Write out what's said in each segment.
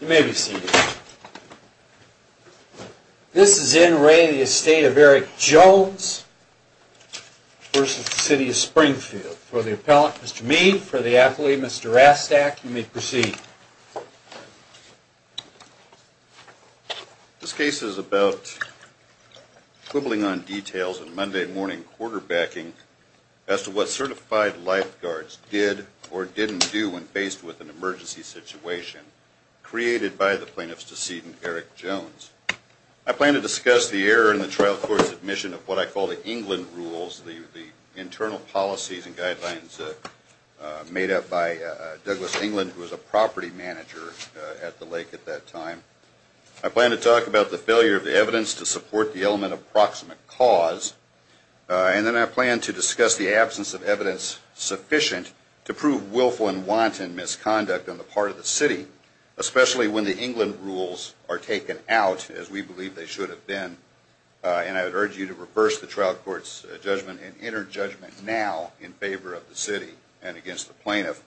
You may be seated. This is N. Ray, the estate of Eric Jones v. City of Springfield. For the appellant, Mr. Mead, for the athlete, Mr. Rastak, you may proceed. This case is about quibbling on details in Monday morning quarterbacking as to what certified lifeguards did or didn't do when faced with an emergency situation created by the plaintiff's decedent, Eric Jones. I plan to discuss the error in the trial court's admission of what I call the England Rules, the internal policies and guidelines made up by Douglas England, who was a property manager at the lake at that time. I plan to talk about the failure of the evidence to support the element of proximate cause, and then I plan to discuss the absence of evidence sufficient to prove willful and wanton misconduct on the part of the City, especially when the England Rules are taken out, as we believe they should have been, and I would urge you to reverse the trial court's judgment and enter judgment now in favor of the City and against the plaintiff.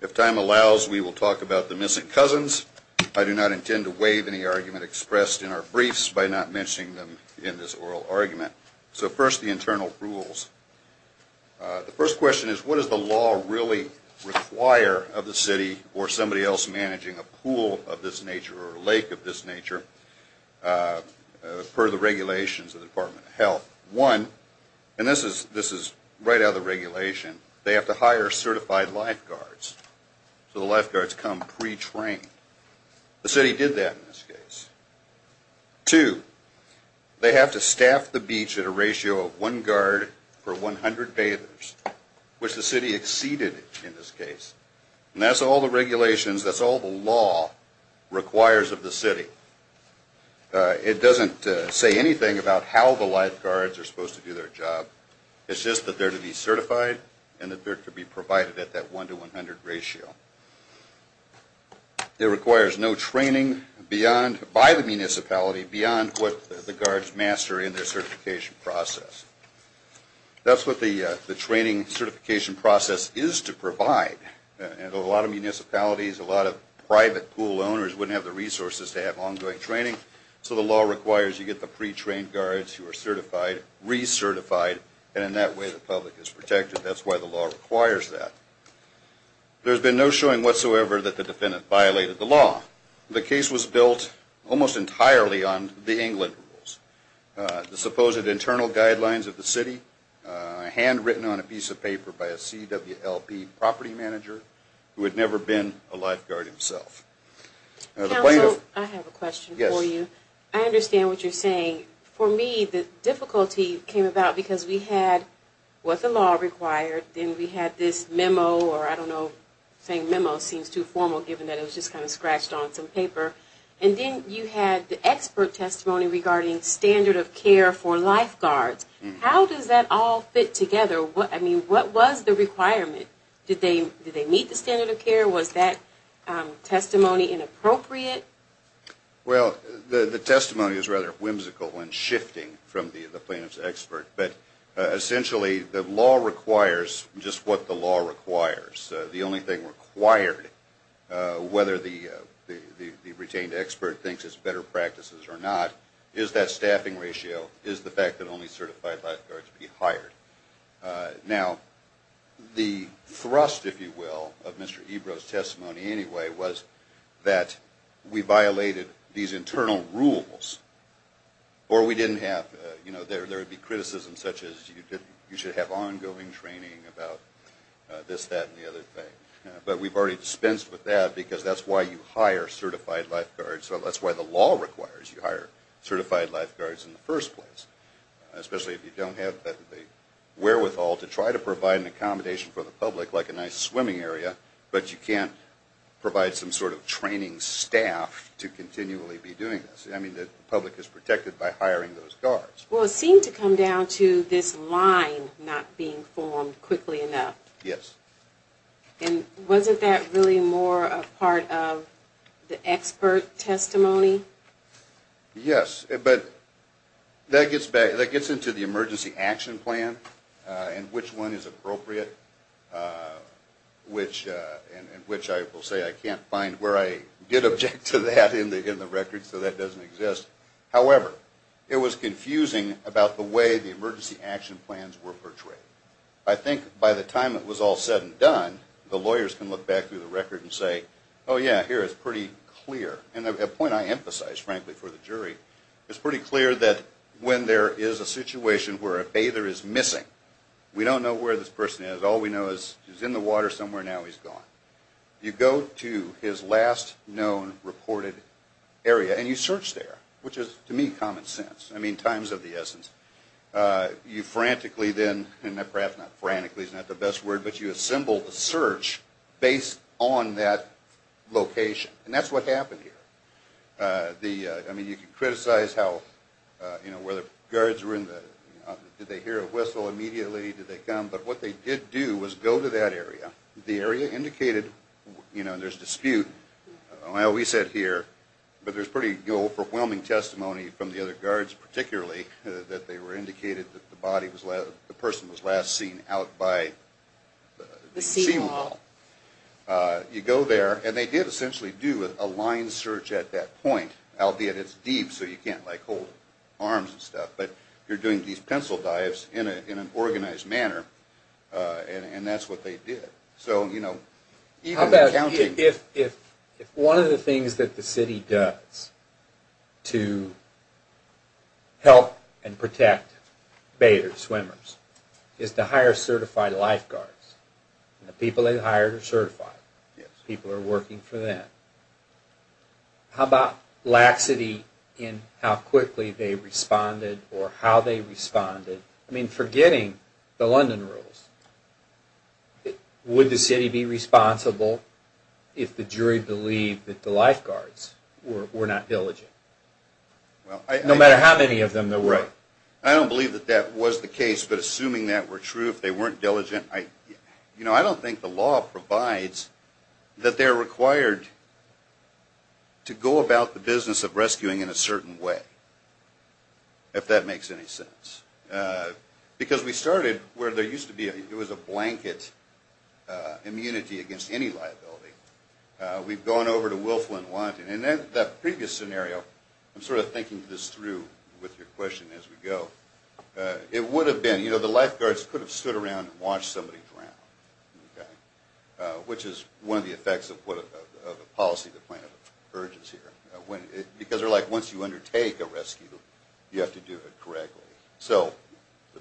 If time allows, we will talk about the missing cousins. I do not intend to waive any argument expressed in our briefs by not mentioning them in this oral argument. So first, the internal rules. The first question is what does the law really require of the City or somebody else managing a pool of this nature or a lake of this nature per the regulations of the Department of Health? One, and this is right out of the regulation, they have to hire certified lifeguards, so the lifeguards come pre-trained. The City did that in this case. Two, they have to staff the beach at a ratio of one guard for 100 bathers, which the City exceeded in this case. And that's all the regulations, that's all the law requires of the City. It doesn't say anything about how the lifeguards are supposed to do their job. It's just that they're to be certified and that they're to be provided at that one to 100 ratio. It requires no training by the municipality beyond what the guards master in their certification process. That's what the training certification process is to provide. And a lot of municipalities, a lot of private pool owners wouldn't have the resources to have ongoing training, so the law requires you get the pre-trained guards who are certified, recertified, and in that way the public is protected. That's why the law requires that. There's been no showing whatsoever that the defendant violated the law. The case was built almost entirely on the England rules. The supposed internal guidelines of the City, handwritten on a piece of paper by a CWLP property manager who had never been a lifeguard himself. Counsel, I have a question for you. I understand what you're saying. For me, the difficulty came about because we had what the law required, then we had this memo, or I don't know, saying memo seems too formal given that it was just kind of scratched on some paper, and then you had the expert testimony regarding standard of care for lifeguards. How does that all fit together? I mean, what was the requirement? Did they meet the standard of care? Was that testimony inappropriate? Well, the testimony is rather whimsical when shifting from the plaintiff's expert, but essentially the law requires just what the law requires. The only thing required, whether the retained expert thinks it's better practices or not, is that staffing ratio, is the fact that only certified lifeguards be hired. Now, the thrust, if you will, of Mr. Ebro's testimony anyway was that we violated these You should have ongoing training about this, that, and the other thing. But we've already dispensed with that because that's why you hire certified lifeguards. So that's why the law requires you hire certified lifeguards in the first place. Especially if you don't have the wherewithal to try to provide an accommodation for the public, like a nice swimming area, but you can't provide some sort of training staff to continually be doing this. I mean, the public is protected by hiring those guards. Well, it seemed to come down to this line not being formed quickly enough. Yes. And wasn't that really more a part of the expert testimony? Yes, but that gets into the emergency action plan and which one is appropriate, and which I will say I can't find where I did object to that in the record, so that doesn't exist. However, it was confusing about the way the emergency action plans were portrayed. I think by the time it was all said and done, the lawyers can look back through the record and say, oh yeah, here it's pretty clear. And the point I emphasize, frankly, for the jury, it's pretty clear that when there is a situation where a bather is missing, we don't know where this person is. All we know is he's in the water somewhere. Now he's gone. You go to his last known reported area, and you search there, which is, to me, common sense. I mean, times of the essence. You frantically then, and perhaps not frantically is not the best word, but you assemble the search based on that location. And that's what happened here. I mean, you can criticize how, you know, where the guards were in the, did they hear a whistle immediately? Did they come? But what they did do was go to that area. The area indicated, you know, there's dispute. Well, we said here, but there's pretty overwhelming testimony from the other guards, particularly that they were indicated that the body was, the person was last seen out by the sea wall. You go there, and they did essentially do a line search at that point, albeit it's deep so you can't like hold arms and stuff. But you're doing these pencil dives in an organized manner, and that's what they did. So, you know, even the county. If one of the things that the city does to help and protect baiters, swimmers, is to hire certified lifeguards. The people they hired are certified. People are working for them. How about laxity in how quickly they responded or how they responded? I mean, forgetting the London rules, would the city be responsible if the jury believed that the lifeguards were not diligent? No matter how many of them there were. Right. I don't believe that that was the case, but assuming that were true, if they weren't diligent, I, you know, I don't think the law provides that they're required to go about the business of rescuing in a certain way, if that makes any sense. Because we started where there used to be a, it was a blanket immunity against any liability. We've gone over to Wilflin-Wyanton, and that previous scenario, I'm sort of thinking this through with your question as we go. It would have been, you know, the lifeguards could have stood around and watched somebody drown, which is one of the effects of what the policy of the plaintiff urges here. Because they're like, once you undertake a rescue, you have to do it correctly. So,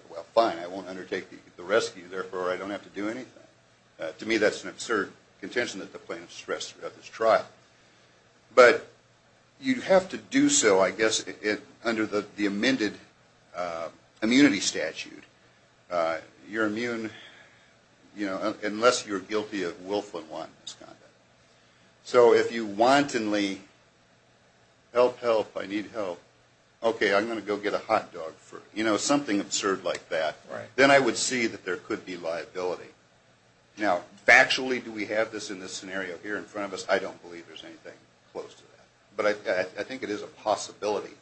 well, fine, I won't undertake the rescue, therefore I don't have to do anything. To me, that's an absurd contention that the plaintiff stressed throughout this trial. But you have to do so, I guess, under the amended immunity statute. You're immune, you know, unless you're guilty of Wilflin-Wyanton misconduct. So if you wantonly, help, help, I need help, okay, I'm going to go get a hot dog first, you know, something absurd like that, then I would see that there could be liability. Now, factually, do we have this in this scenario here in front of us? I don't believe there's anything close to that. But I think it is a possibility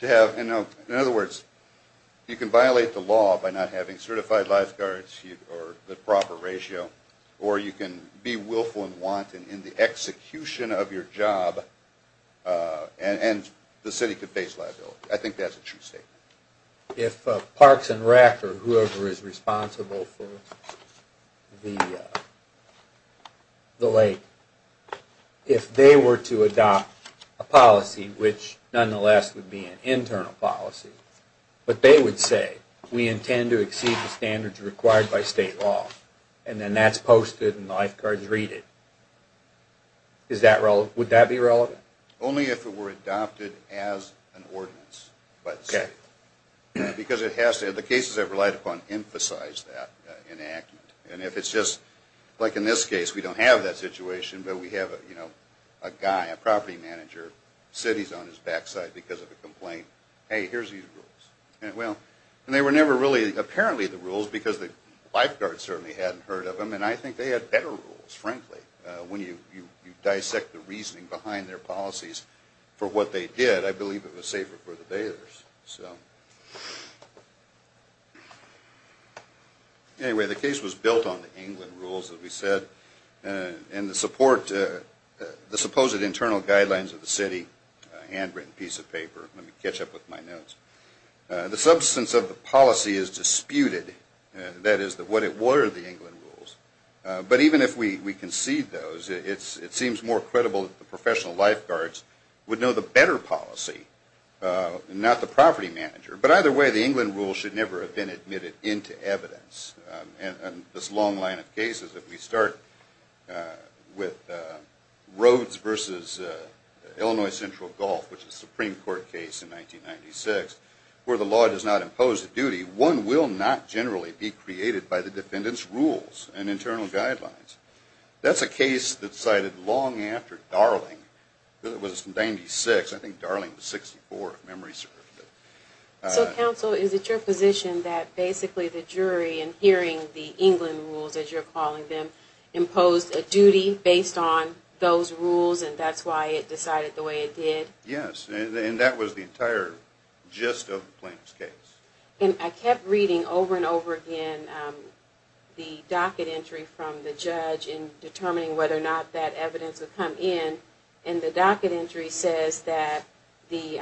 to have, in other words, you can violate the law by not having certified lifeguards, or the proper ratio, or you can be Wilflin-Wyanton in the execution of your job, and the city could face liability. I think that's a true statement. If Parks and Rec, or whoever is responsible for the lake, if they were to adopt a policy, which nonetheless would be an internal policy, but they would say, we intend to exceed the standards required by state law, and then that's posted and the lifeguards read it, would that be relevant? Only if it were adopted as an ordinance by the city. Because it has to, the cases I've relied upon emphasize that enactment, and if it's just, like in this case, we don't have that situation, but we have, you know, a guy, a property manager, city's on his backside because of a complaint, hey, here's these rules. And well, and they were never really, apparently the rules, because the lifeguards certainly hadn't heard of them, and I think they had better rules, frankly, when you dissect the reasoning behind their policies for what they did, I believe it was safer for the bailiffs. So, anyway, the case was built on the England rules, as we said, and the support, the supposed internal guidelines of the city, handwritten piece of paper, let me catch up with my notes. The substance of the policy is disputed, that is what it were, the England rules. But even if we concede those, it seems more credible that the professional lifeguards would know the better policy, not the property manager. But either way, the England rules should never have been admitted into evidence. And this long line of cases, if we start with Rhodes versus Illinois Central Gulf, which is a Supreme Court case in 1996, where the law does not impose a duty, one will not generally be created by the defendant's rules and internal guidelines. That's a case that's cited long after Darling, it was from 96, I think Darling was 64, if memory serves me. So, counsel, is it your position that basically the jury, in hearing the England rules, as you're calling them, imposed a duty based on those rules, and that's why it decided the way it did? Yes, and that was the entire gist of the plaintiff's case. And I kept reading over and over again the docket entry from the judge in determining whether or not that evidence would come in, and the docket entry says that the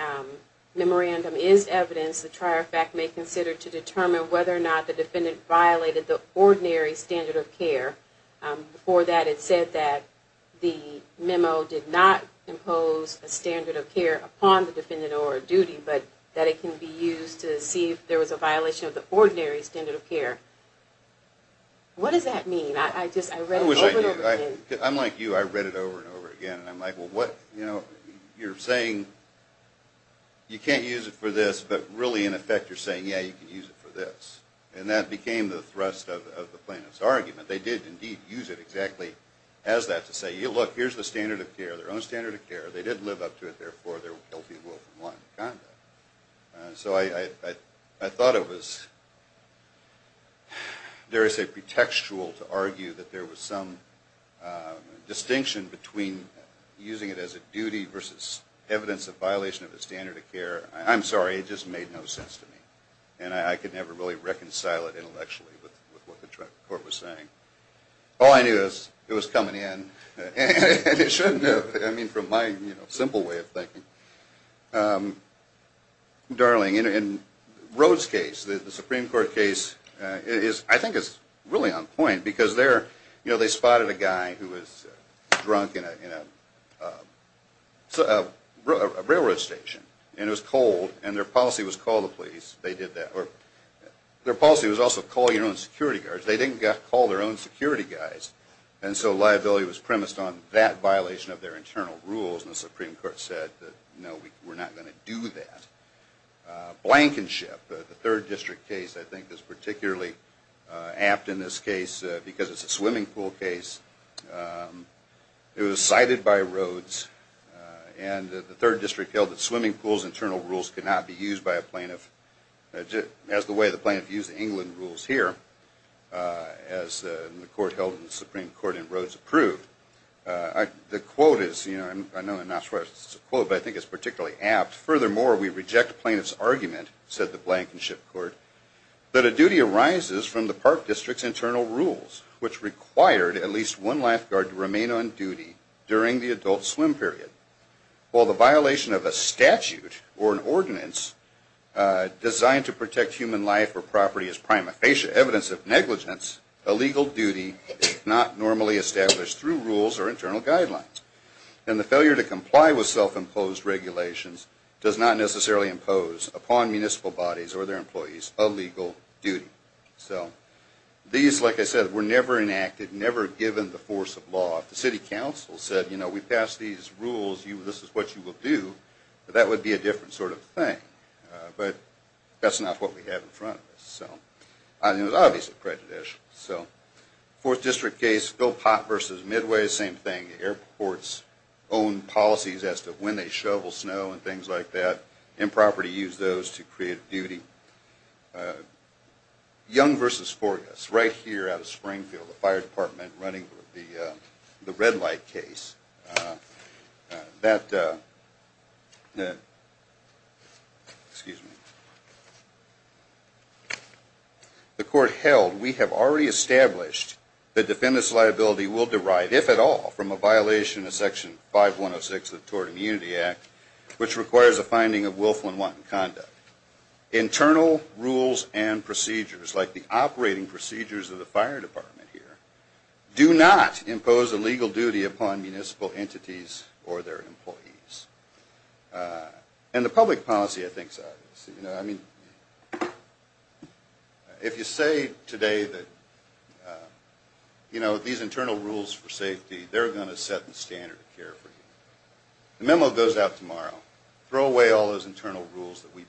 memorandum is evidence the trier fact may consider to determine whether or not the defendant violated the ordinary standard of care. Before that, it said that the memo did not impose a standard of care upon the defendant or duty, but that it can be used to see if there was a violation of the ordinary standard of care. What does that mean? I just, I read it over and over again. I'm like, well, what, you know, you're saying you can't use it for this, but really, in effect, you're saying, yeah, you can use it for this. And that became the thrust of the plaintiff's argument. They did, indeed, use it exactly as that, to say, look, here's the standard of care, their own standard of care, they did live up to it, therefore, they're guilty of willful malign conduct. So, I thought it was, dare I say, pretextual to argue that there was some distinction between using it as a duty versus evidence of violation of the standard of care. I'm sorry, it just made no sense to me. And I could never really reconcile it intellectually with what the court was saying. All I knew is it was coming in, and it shouldn't have. I mean, from my simple way of thinking. Darling, in Rhoad's case, the Supreme Court case, I think it's really on point, because they spotted a guy who was drunk in a railroad station. And it was cold, and their policy was call the police. They did that. Their policy was also call your own security guards. They didn't call their own security guys. And so liability was premised on that violation of their internal rules. And the Supreme Court said, no, we're not going to do that. Blankenship, the third district case, I think, is particularly apt in this case. Because it's a swimming pool case. It was cited by Rhoad's. And the third district held that swimming pools internal rules cannot be used by a plaintiff as the way the plaintiff used England rules here, as the court held in the Supreme Court in Rhoad's approved. The quote is, I know I'm not sure if it's a quote, but I think it's particularly apt. Furthermore, we reject plaintiff's argument, said the Blankenship court, that a duty arises from the park district's internal rules, which required at least one lifeguard to remain on duty during the adult swim period. While the violation of a statute or an ordinance designed to protect human life or property is prima facie evidence of negligence, a legal duty is not normally established through rules or internal guidelines. And the failure to comply with self-imposed regulations does not necessarily impose upon municipal bodies or their employees a legal duty. So these, like I said, were never enacted, never given the force of law. If the city council said, you know, we passed these rules, this is what you will do, that would be a different sort of thing. But that's not what we have in front of us. So it was obviously prejudicial. So fourth district case, Philpott versus Midway, same thing. Airports own policies as to when they shovel snow and things like that, and property use those to create duty. Young versus Forgas, right here out of Springfield, the fire department running the red light case. The court held, we have already established that defendants' liability will derive, if at all, from a violation of Section 5106 of the Tort Immunity Act, which requires a finding of willful and wanton conduct. Internal rules and procedures, like the operating procedures of the fire department here, do not impose a legal duty upon municipal entities or their employees. And the public policy, I think, is obvious. You know, I mean, if you say today that, you know, these internal rules for safety, they're going to set the standard of care for you. The memo goes out tomorrow, throw away all those internal rules that we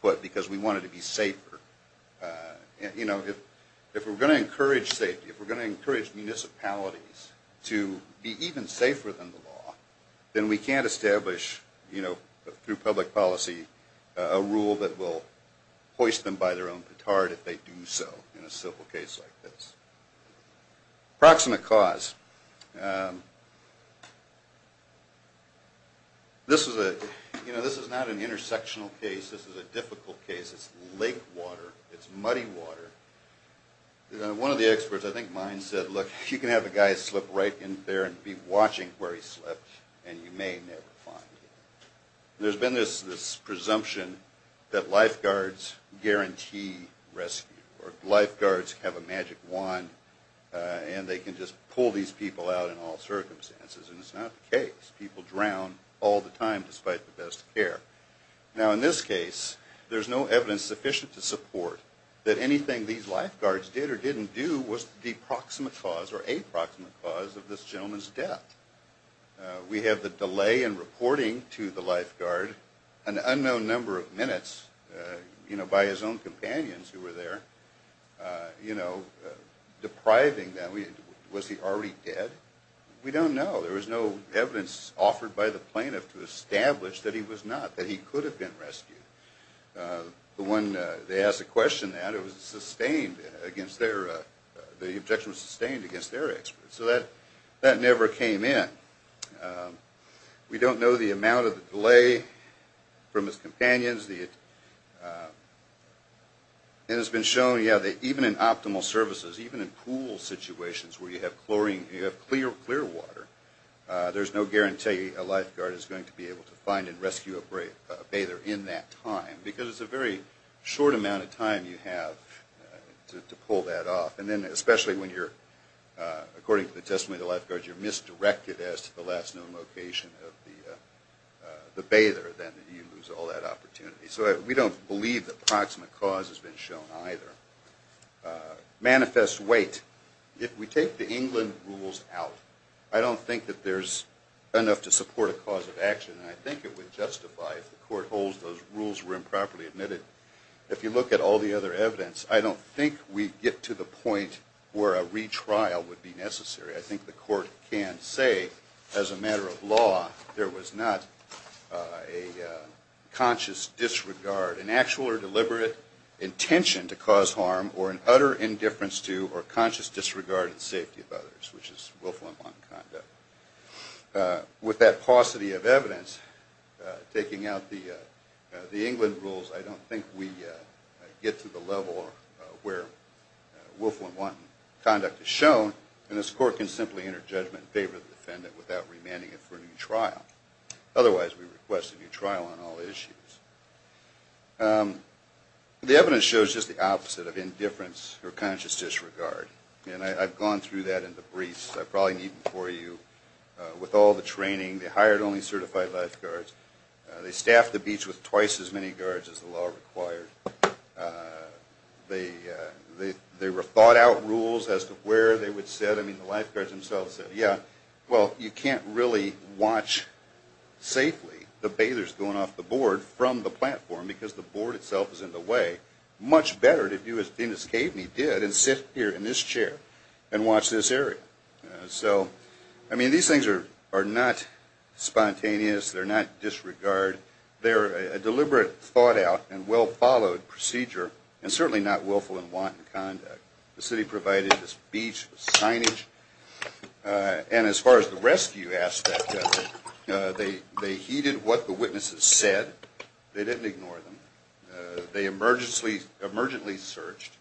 put because we wanted to be safer. You know, if we're going to encourage safety, if we're going to encourage municipalities to be even safer than the law, then we can't establish, you know, through public policy, a rule that will hoist them by their own petard if they do so in a civil case like this. Approximate cause. This is a, you know, this is not an intersectional case. This is a difficult case. It's lake water. It's muddy water. One of the experts, I think mine, said, look, you can have a guy slip right in there and be watching where he slipped, and you may never find him. There's been this presumption that lifeguards guarantee rescue, or lifeguards have a magic wand, and they can just pull these people out in all circumstances, and it's not the case. People drown all the time despite the best care. Now, in this case, there's no evidence sufficient to support that anything these lifeguards did or didn't do was the proximate cause or a proximate cause of this gentleman's death. We have the delay in reporting to the lifeguard, an unknown number of minutes, you know, by his own companions who were there, you know, depriving them. Was he already dead? We don't know. There was no evidence offered by the plaintiff to establish that he was not, that he could have been rescued. The one, they asked the question that it was sustained against their, the objection was sustained against their experts. So that never came in. We don't know the amount of the delay from his companions. It has been shown, yeah, that even in optimal services, even in pool situations where you have chlorine, you have clear water, there's no guarantee a lifeguard is going to be able to find and rescue a bather in that time, because it's a very short amount of time you have to pull that off. Especially when you're, according to the testimony of the lifeguard, you're misdirected as to the last known location of the bather, then you lose all that opportunity. So we don't believe the proximate cause has been shown either. Manifest weight. If we take the England rules out, I don't think that there's enough to support a cause of action, and I think it would justify if the court holds those rules were improperly admitted. If you look at all the other evidence, I don't think we get to the point where a retrial would be necessary. I think the court can say, as a matter of law, there was not a conscious disregard, an actual or deliberate intention to cause harm, or an utter indifference to, or conscious disregard and safety of others, which is Wilflin bond conduct. With that paucity of evidence, taking out the England rules, I don't think we get to the level where Wilflin bond conduct is shown, and this court can simply enter judgment in favor of the defendant without remanding it for a new trial. Otherwise, we request a new trial on all issues. The evidence shows just the opposite of indifference or conscious disregard, and I've gone through that in the briefs. I probably need them for you. With all the training, they hired only certified lifeguards. They staffed the beach with twice as many guards as the law required. There were thought-out rules as to where they would sit. I mean, the lifeguards themselves said, yeah, well, you can't really watch safely the bathers going off the board from the platform because the board itself is in the way. Much better to do as Denis Caveney did, and sit here in this chair and watch this area. So, I mean, these things are not spontaneous. They're not disregard. They're a deliberate, thought-out, and well-followed procedure, and certainly not Wilflin bond conduct. The city provided this beach signage, and as far as the rescue aspect of it, they heeded what the witnesses said. They didn't ignore them. They emergently searched.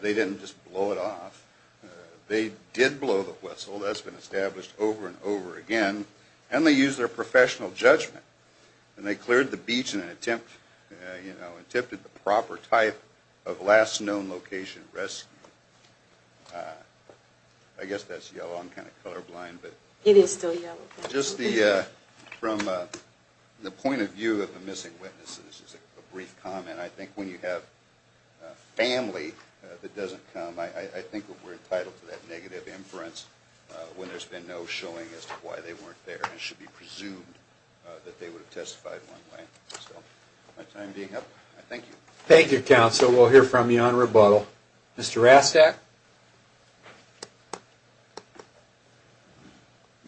They didn't just blow it off. They did blow the whistle. That's been established over and over again, and they used their professional judgment, and they cleared the beach in an attempt, you know, attempted the proper type of last known location rescue. I guess that's yellow. I'm kind of colorblind, but... It is still yellow. Just from the point of view of the missing witnesses, this is a brief comment. I think when you have a family that doesn't come, I think we're entitled to that negative inference when there's been no showing as to why they weren't there, and should be presumed that they would have testified one way. So, my time being up, I thank you. Thank you, counsel. We'll hear from you on rebuttal. Mr. Rastak. Good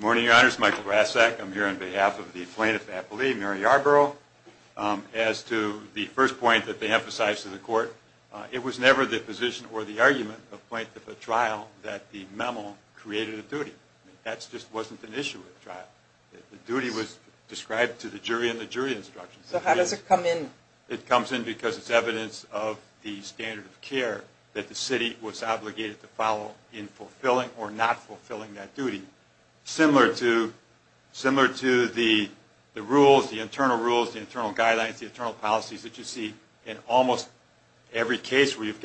morning, your honors. Michael Rastak. I'm here on behalf of the plaintiff's affilee, Mary Arborough. As to the first point that they emphasized to the court, it was never the position or the argument of plaintiff at trial that the memo created a duty. That just wasn't an issue at trial. The duty was described to the jury in the jury instructions. So, how does it come in? It comes in because it's evidence of the standard of care that the city was obligated to follow in fulfilling or not fulfilling that duty. Similar to the rules, the internal rules, the internal guidelines, the internal policies that you see in almost every case where you've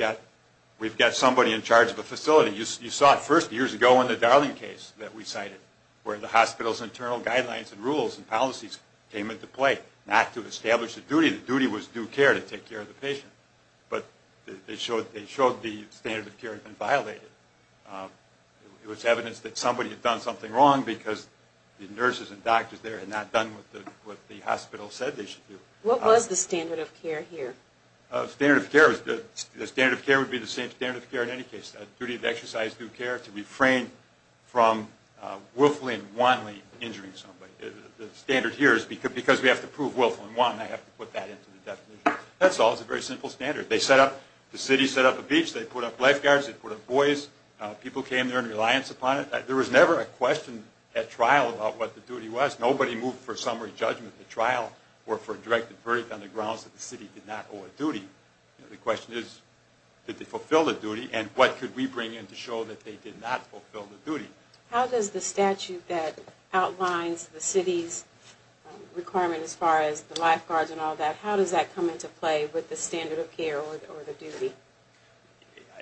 got somebody in charge of a facility. You saw it first years ago in the Darling case that we cited, where the hospital's internal guidelines and rules and policies came into play. Not to establish a duty. The duty was due care to take care of the patient. But they showed the standard of care had been violated. It was evidence that somebody had done something wrong because the nurses and doctors there had not done what the hospital said they should do. The standard of care would be the same standard of care in any case, the duty of exercise due care to refrain from willfully and wantonly injuring somebody. The standard here is because we have to prove willfully and wantonly, I have to put that into the definition. That's all. It's a very simple standard. They set up, the city set up a beach. They put up lifeguards. They put up buoys. People came there in reliance upon it. There was never a question at trial about what the duty was. Nobody moved for summary judgment at trial or for a directed verdict on the grounds that the city did not owe a duty. The question is, did they fulfill the duty? And what could we bring in to show that they did not fulfill the duty? How does the statute that outlines the city's requirement as far as the lifeguards and all that, how does that come into play with the standard of care or the duty?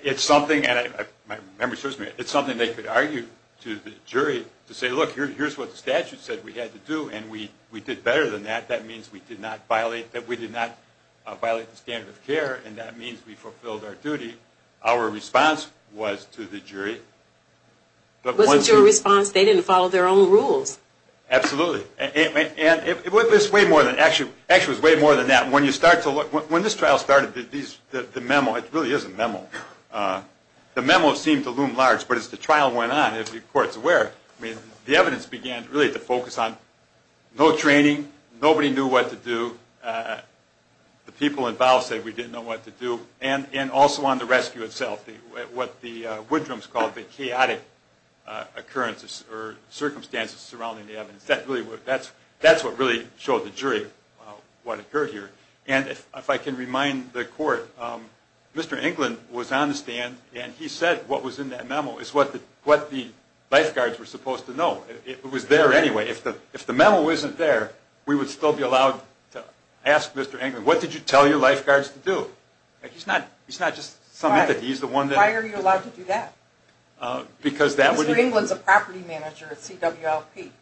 It's something, and my memory serves me, it's something they could argue to the jury to say, look, here's what the statute said we had to do. And we did better than that. That means we did not violate the standard of care. And that means we fulfilled our duty. Our response was to the jury. It wasn't your response. They didn't follow their own rules. Absolutely. And it was way more than that. When you start to look, when this trial started, the memo, it really is a memo, the memo seemed to loom large. But as the trial went on, as the court's aware, the evidence began really to focus on no training. Nobody knew what to do. The people involved said we didn't know what to do. And also on the rescue itself, what the Woodrums called the chaotic occurrence or circumstances surrounding the evidence. That's what really showed the jury what occurred here. And if I can remind the court, Mr. Englund was on the stand, and he said what was in that memo is what the lifeguards were supposed to know. It was there anyway. If the memo isn't there, we would still be allowed to ask Mr. Englund, what did you tell your lifeguards to do? He's not just some entity. He's the one that- Why are you allowed to do that? Because that would- Mr. Englund's a property manager at CWLP.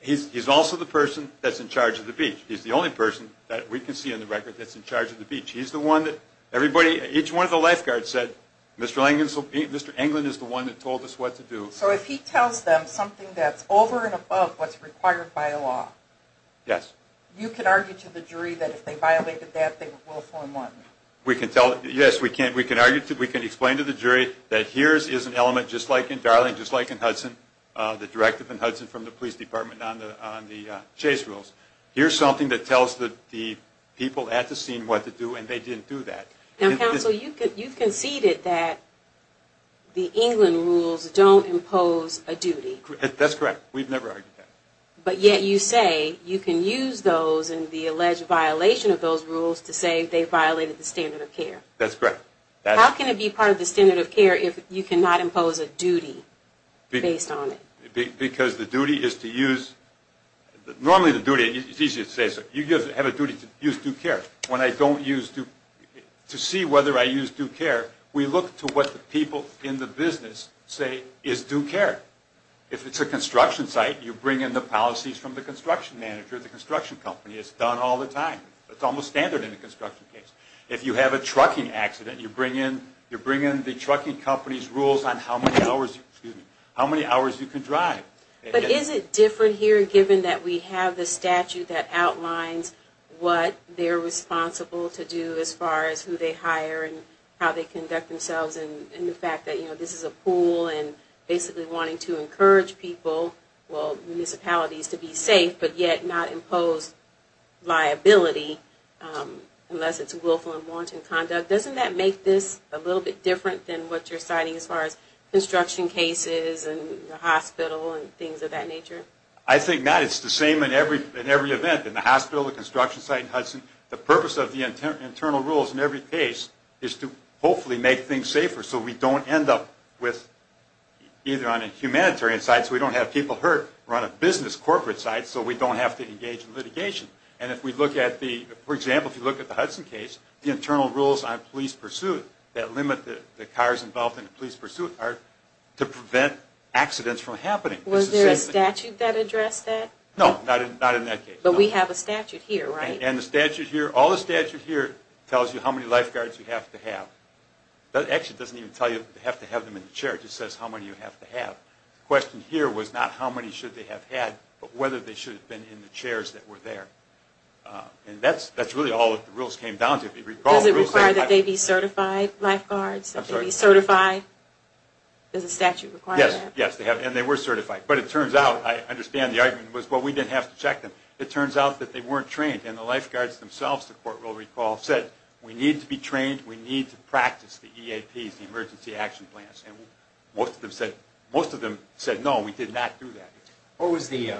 He's also the person that's in charge of the beach. He's the only person that we can see on the record that's in charge of the beach. He's the one that everybody, each one of the lifeguards said, Mr. Englund is the one that told us what to do. So if he tells them something that's over and above what's required by law- Yes. You can argue to the jury that if they violated that, they will form one. We can tell- Yes, we can. We can argue to- We can explain to the jury that here is an element, just like in Darling, just like in Hudson, the directive in Hudson from the police department on the chase rules. Here's something that tells the people at the scene what to do, and they didn't do that. Now, counsel, you've conceded that the Englund rules don't impose a duty. That's correct. We've never argued that. But yet you say you can use those in the alleged violation of those rules to say they violated the standard of care. That's correct. How can it be part of the standard of care if you cannot impose a duty based on it? Because the duty is to use- Normally the duty, it's easy to say, so you have a duty to use due care. When I don't use due- to see whether I use due care, we look to what the people in the business say is due care. If it's a construction site, you bring in the policies from the construction manager, the construction company. It's done all the time. It's almost standard in a construction case. If you have a trucking accident, you bring in the trucking company's rules on how many hours you can drive. But is it different here given that we have the statute that outlines what they're responsible to do as far as who they hire and how they conduct themselves and the fact that this is a pool and basically wanting to encourage people, well, municipalities to be safe, but yet not impose liability unless it's willful and wanton conduct. Doesn't that make this a little bit different than what you're citing as far as construction cases and the hospital and things of that nature? I think not. It's the same in every event, in the hospital, the construction site in Hudson. The purpose of the internal rules in every case is to hopefully make things safer so we don't end up with either on a humanitarian side so we don't have people hurt or on a business corporate side so we don't have to engage in litigation. And if we look at the, for example, if you look at the Hudson case, the internal rules on police pursuit that limit the cars involved in the police pursuit are to prevent accidents from happening. Was there a statute that addressed that? No, not in that case. But we have a statute here, right? And the statute here, all the statute here tells you how many lifeguards you have to have. Actually, it doesn't even tell you that you have to have them in the church. It says how many you have to have. The question here was not how many should they have had but whether they should have been in the chairs that were there. And that's really all that the rules came down to. Because it required that they be certified lifeguards? That they be certified? Does the statute require that? Yes, and they were certified. But it turns out, I understand the argument was, well, we didn't have to check them. It turns out that they weren't trained. And the lifeguards themselves, the court will recall, said, we need to be trained. We need to practice the EAPs, the emergency action plans. And most of them said, no, we did not do that. What was the,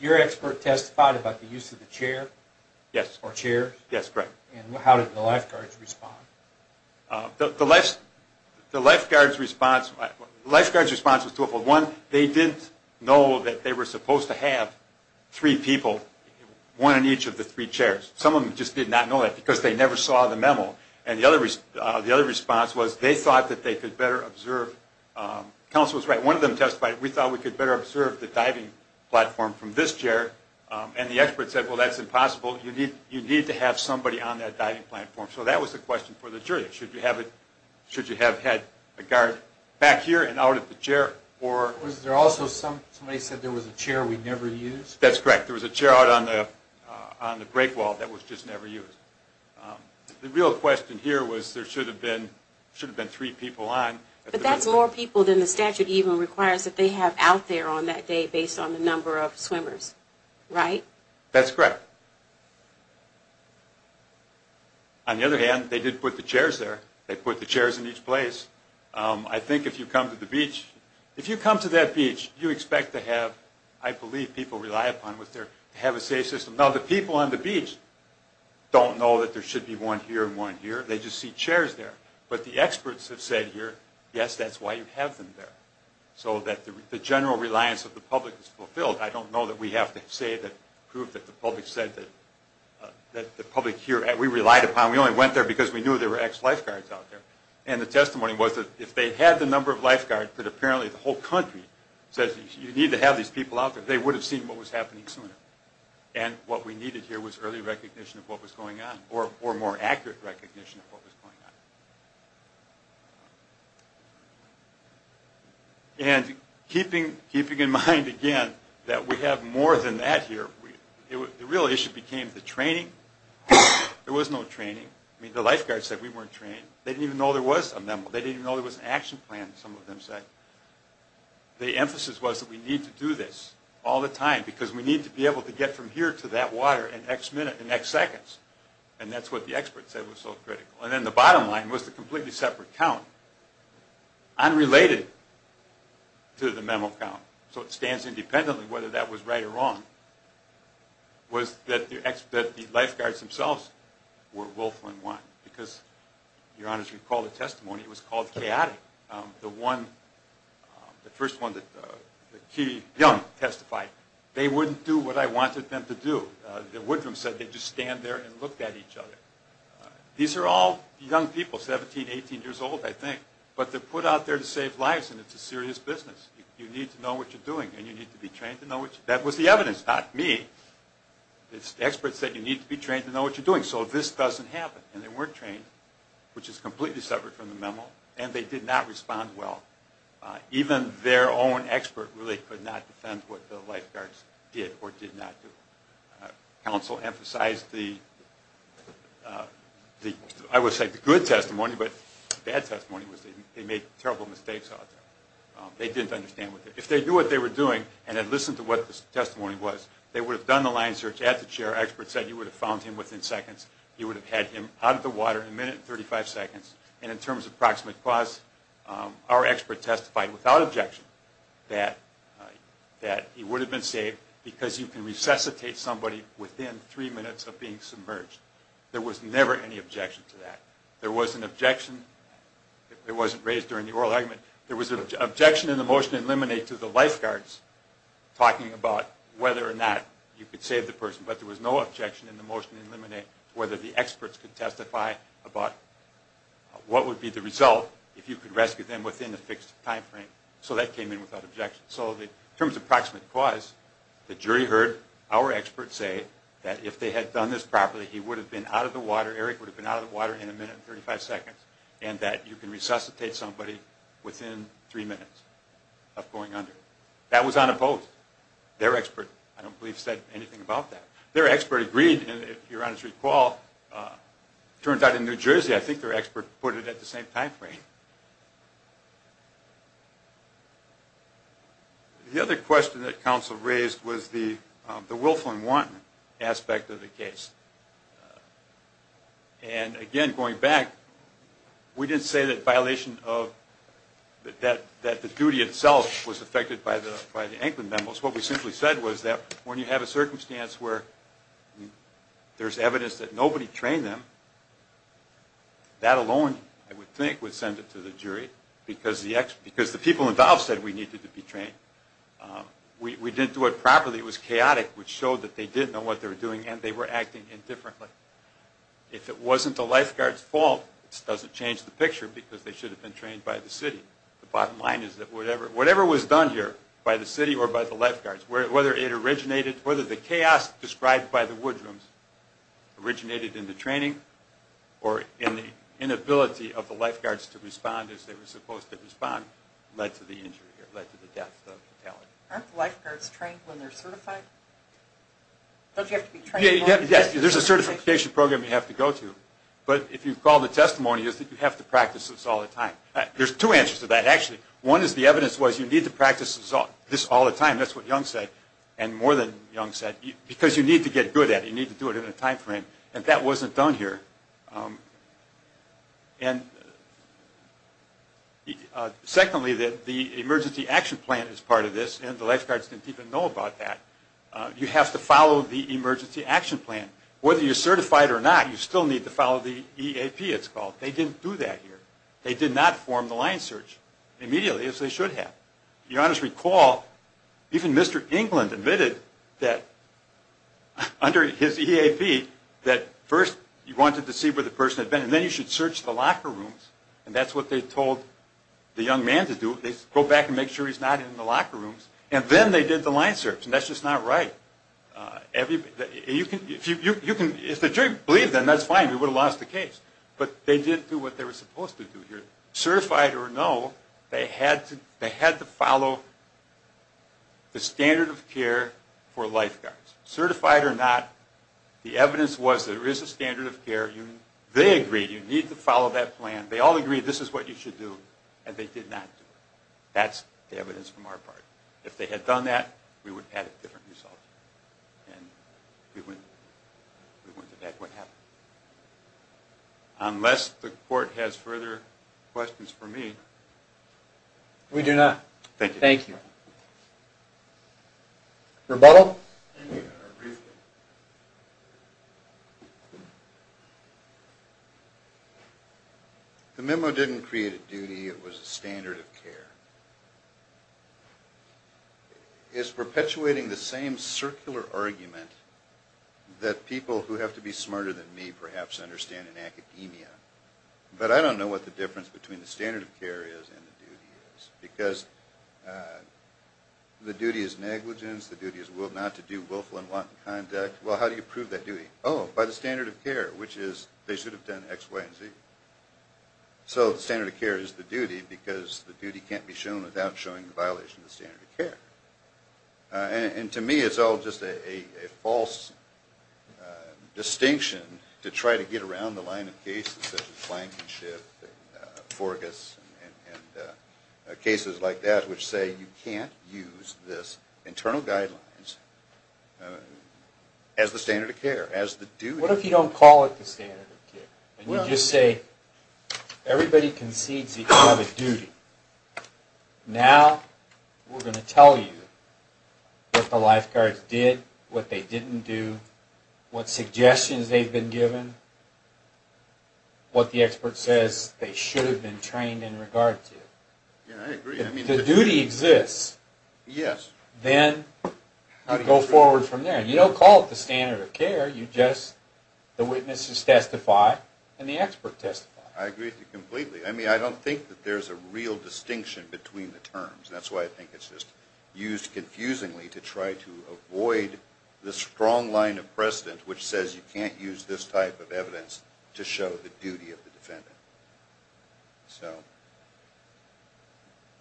your expert testified about the use of the chair? Yes. Or chairs? Yes, correct. And how did the lifeguards respond? The lifeguards response was twofold. One, they didn't know that they were supposed to have three people, one in each of the three chairs. Some of them just did not know that because they never saw the memo. And the other response was they thought that they could better observe. Counsel was right. One of them testified, we thought we could better observe the diving platform from this chair. And the expert said, well, that's impossible. You need to have somebody on that diving platform. So that was the question for the jury. Should you have had a guard back here and out of the chair? Or was there also somebody said there was a chair we never used? That's correct. There was a chair out on the break wall that was just never used. The real question here was, there should have been three people on. But that's more people than the statute even requires that they have out there on that day based on the number of swimmers, right? That's correct. On the other hand, they did put the chairs there. They put the chairs in each place. I think if you come to the beach, if you come to that beach, you expect to have, I believe, people rely upon to have a safe system. Now, the people on the beach don't know that there should be one here and one here. They just see chairs there. But the experts have said here, yes, that's why you have them there. So that the general reliance of the public is fulfilled. I don't know that we have to say that, prove that the public said that the public here, we relied upon, we only went there because we knew there were ex-lifeguards out there. And the testimony was that if they had the number of lifeguards that apparently the whole country says you need to have these people out there, they would have seen what was happening sooner. And what we needed here was early recognition of what was going on, or more accurate recognition of what was going on. And keeping in mind, again, that we have more than that here, the real issue became the training. There was no training. I mean, the lifeguards said we weren't trained. They didn't even know there was a memo. They didn't know there was an action plan, some of them said. The emphasis was that we need to do this all the time, because we need to be able to get from here to that water in x minutes, in x seconds. And that's what the experts said was so critical. And then the bottom line was the completely separate count. Unrelated to the memo count, so it stands independently whether that was right or wrong, was that the lifeguards themselves were willful and wise. Because Your Honor, as you recall the testimony, it was called chaotic. The first one, the key young testified, they wouldn't do what I wanted them to do. The Woodrum said they'd just stand there and look at each other. These are all young people, 17, 18 years old, I think. But they're put out there to save lives, and it's a serious business. You need to know what you're doing, and you need to be trained to know what you're doing. That was the evidence, not me. The experts said you need to be trained to know what you're doing. So this doesn't happen. And they weren't trained, which is completely separate from the memo. And they did not respond well. Even their own expert really could not defend what the lifeguards did or did not do. Counsel emphasized the, I would say, the good testimony. But the bad testimony was they made terrible mistakes out there. They didn't understand what they were doing. If they knew what they were doing and had listened to what this testimony was, they would have done the line search at the chair. Experts said you would have found him within seconds. You would have had him out of the water in a minute and 35 seconds. And in terms of proximate cause, our expert testified without objection that he would have been saved because you can resuscitate somebody within three minutes of being submerged. There was never any objection to that. There was an objection. It wasn't raised during the oral argument. There was an objection in the motion in limine to the lifeguards talking about whether or not you could save the person. But there was no objection in the motion in limine to whether the experts could testify about what would be the result if you could rescue them within a fixed time frame. So that came in without objection. So in terms of proximate cause, the jury heard our expert say that if they had done this properly, he would have been out of the water, Eric would have been out of the water in a minute and 35 seconds, and that you can resuscitate somebody within three minutes of going under. That was unopposed. Their expert, I don't believe, said anything about that. Their expert agreed. And if you're on his recall, it turned out in New Jersey, I think their expert put it at the same time frame. The other question that counsel raised was the willful and wanton aspect of the case. And again, going back, we didn't say that the duty itself was affected by the Anklin memos. What we simply said was that when you have a circumstance where there's evidence that nobody trained them, that alone, I would think, would send it to the jury, because the people involved said we needed to be trained. We didn't do it properly. It was chaotic, which showed that they didn't know what they were doing, and they were acting indifferently. If it wasn't the lifeguard's fault, this doesn't change the picture, because they should have been trained by the city. The bottom line is that whatever was done here, by the city or by the lifeguards, whether it originated, whether the chaos described by the woodrooms originated in the training or in the inability of the lifeguards to respond as they were supposed to respond, led to the injury or led to the death of the talent. Aren't lifeguards trained when they're certified? Don't you have to be trained more? Yes, there's a certification program you have to go to. But if you've called a testimony, you have to practice this all the time. There's two answers to that, actually. One is the evidence was you need to practice this all the time. That's what Young said, and more than Young said, because you need to get good at it. You need to do it in a time frame. And that wasn't done here. And secondly, the emergency action plan is part of this, and the lifeguards didn't even know about that. You have to follow the emergency action plan. Whether you're certified or not, you still need to follow the EAP, it's called. They didn't do that here. They did not form the line search immediately, as they should have. You ought to recall, even Mr. England admitted that under his EAP, that first, you wanted to see where the person had been, and then you should search the locker rooms. And that's what they told the young man to do. They go back and make sure he's not in the locker rooms. And then they did the line search, and that's just not right. If the jury believed them, that's fine. We would have lost the case. But they didn't do what they were supposed to do here. Certified or no, they had to follow the standard of care for lifeguards. Certified or not, the evidence was there is a standard of care. They agreed you need to follow that plan. They all agreed this is what you should do, and they did not do it. That's the evidence from our part. If they had done that, we would have had a different result. And we wouldn't have had what happened. Unless the court has further questions for me. We do not. Thank you. Thank you. Rebuttal? Thank you. The memo didn't create a duty. It was a standard of care. It's perpetuating the same circular argument that people who have to be smarter than me, perhaps, understand in academia. But I don't know what the difference between the standard of care is and the duty is. Because the duty is negligence. The duty is not to do willful and wanton conduct. Well, how do you prove that duty? By the standard of care, which is they should have done x, y, and z. So the standard of care is the duty, because the duty can't be shown without showing the violation of the standard of care. And to me, it's all just a false distinction to try to get around the line of cases such as Flankenship, Forgas, and cases like that, which say you can't use this internal guidelines as the standard of care, as the duty. What if you don't call it the standard of care? And you just say, everybody concedes they have a duty. Now, we're going to tell you what the lifeguards did, what they didn't do, what suggestions they've been given, what the expert says they should have been trained in regard to. Yeah, I agree. If the duty exists, then you go forward from there. You don't call it the standard of care. The witnesses testify, and the expert testifies. I agree with you completely. I don't think that there's a real distinction between the terms. That's why I think it's just used confusingly to try to avoid the strong line of precedent, which says you can't use this type of evidence to show the duty of the defendant. So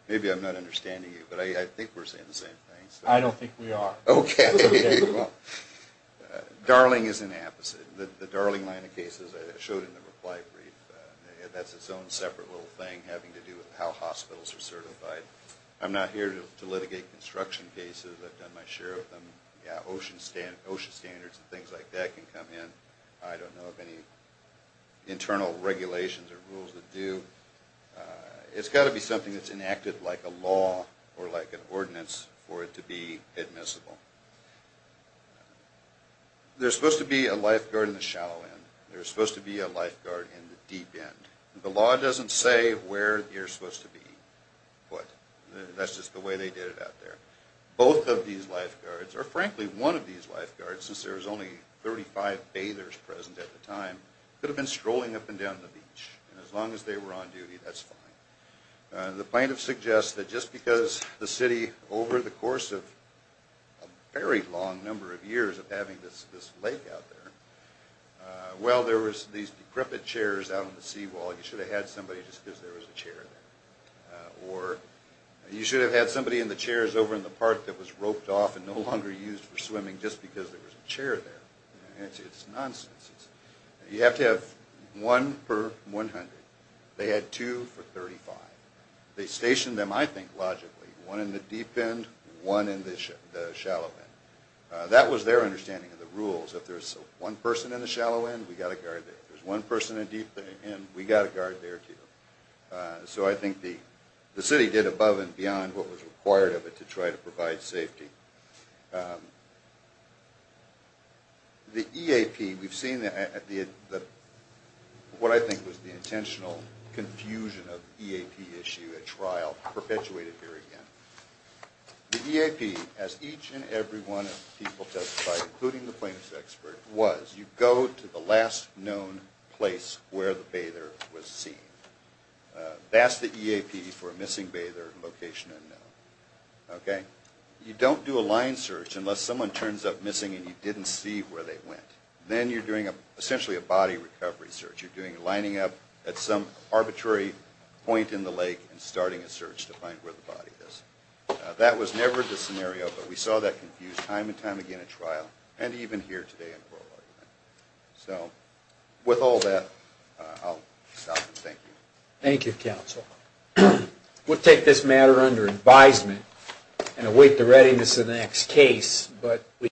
maybe I'm not understanding you, but I think we're saying the same thing. I don't think we are. OK. Darling is an app. The Darling line of cases I showed in the reply brief, that's its own separate little thing having to do with how hospitals are certified. I'm not here to litigate construction cases. I've done my share of them. Ocean standards and things like that can come in. I don't know of any internal regulations or rules that do. It's got to be something that's enacted like a law or like an ordinance for it to be admissible. There's supposed to be a lifeguard in the shallow end. There's supposed to be a lifeguard in the deep end. The law doesn't say where you're supposed to be put. That's just the way they did it out there. Both of these lifeguards, or frankly, one of these lifeguards, since there was only 35 bathers present at the time, could have been strolling up and down the beach. And as long as they were on duty, that's fine. The plaintiff suggests that just because the city, over the course of a very long number of years of having this lake out there, well, there was these decrepit chairs out on the seawall. You should have had somebody just because there was a chair there. Or you should have had somebody in the chairs over in the park that was roped off and no longer used for swimming just because there was a chair there. It's nonsense. You have to have one per 100. They had two for 35. They stationed them, I think, logically, one in the deep end, one in the shallow end. That was their understanding of the rules. If there's one person in the shallow end, we've got to guard there. If there's one person in the deep end, we've got to guard there, too. So I think the city did above and beyond what was required of it to try to provide safety. The EAP, we've seen what I think was the intentional confusion of EAP issue at trial perpetuated here again. The EAP, as each and every one of the people testified, including the plaintiff's expert, was you go to the last known place where the bather was seen. That's the EAP for a missing bather, location unknown. OK? You don't do a line search unless someone turns up missing and you didn't see where they went. Then you're doing, essentially, a body recovery search. You're lining up at some arbitrary point in the lake and starting a search to find where the body is. That was never the scenario, but we saw that confused time and time again at trial, and even here today in Coral Island. So with all that, I'll stop and thank you. Thank you, counsel. We'll take this matter under advisement and await the readiness of the next case.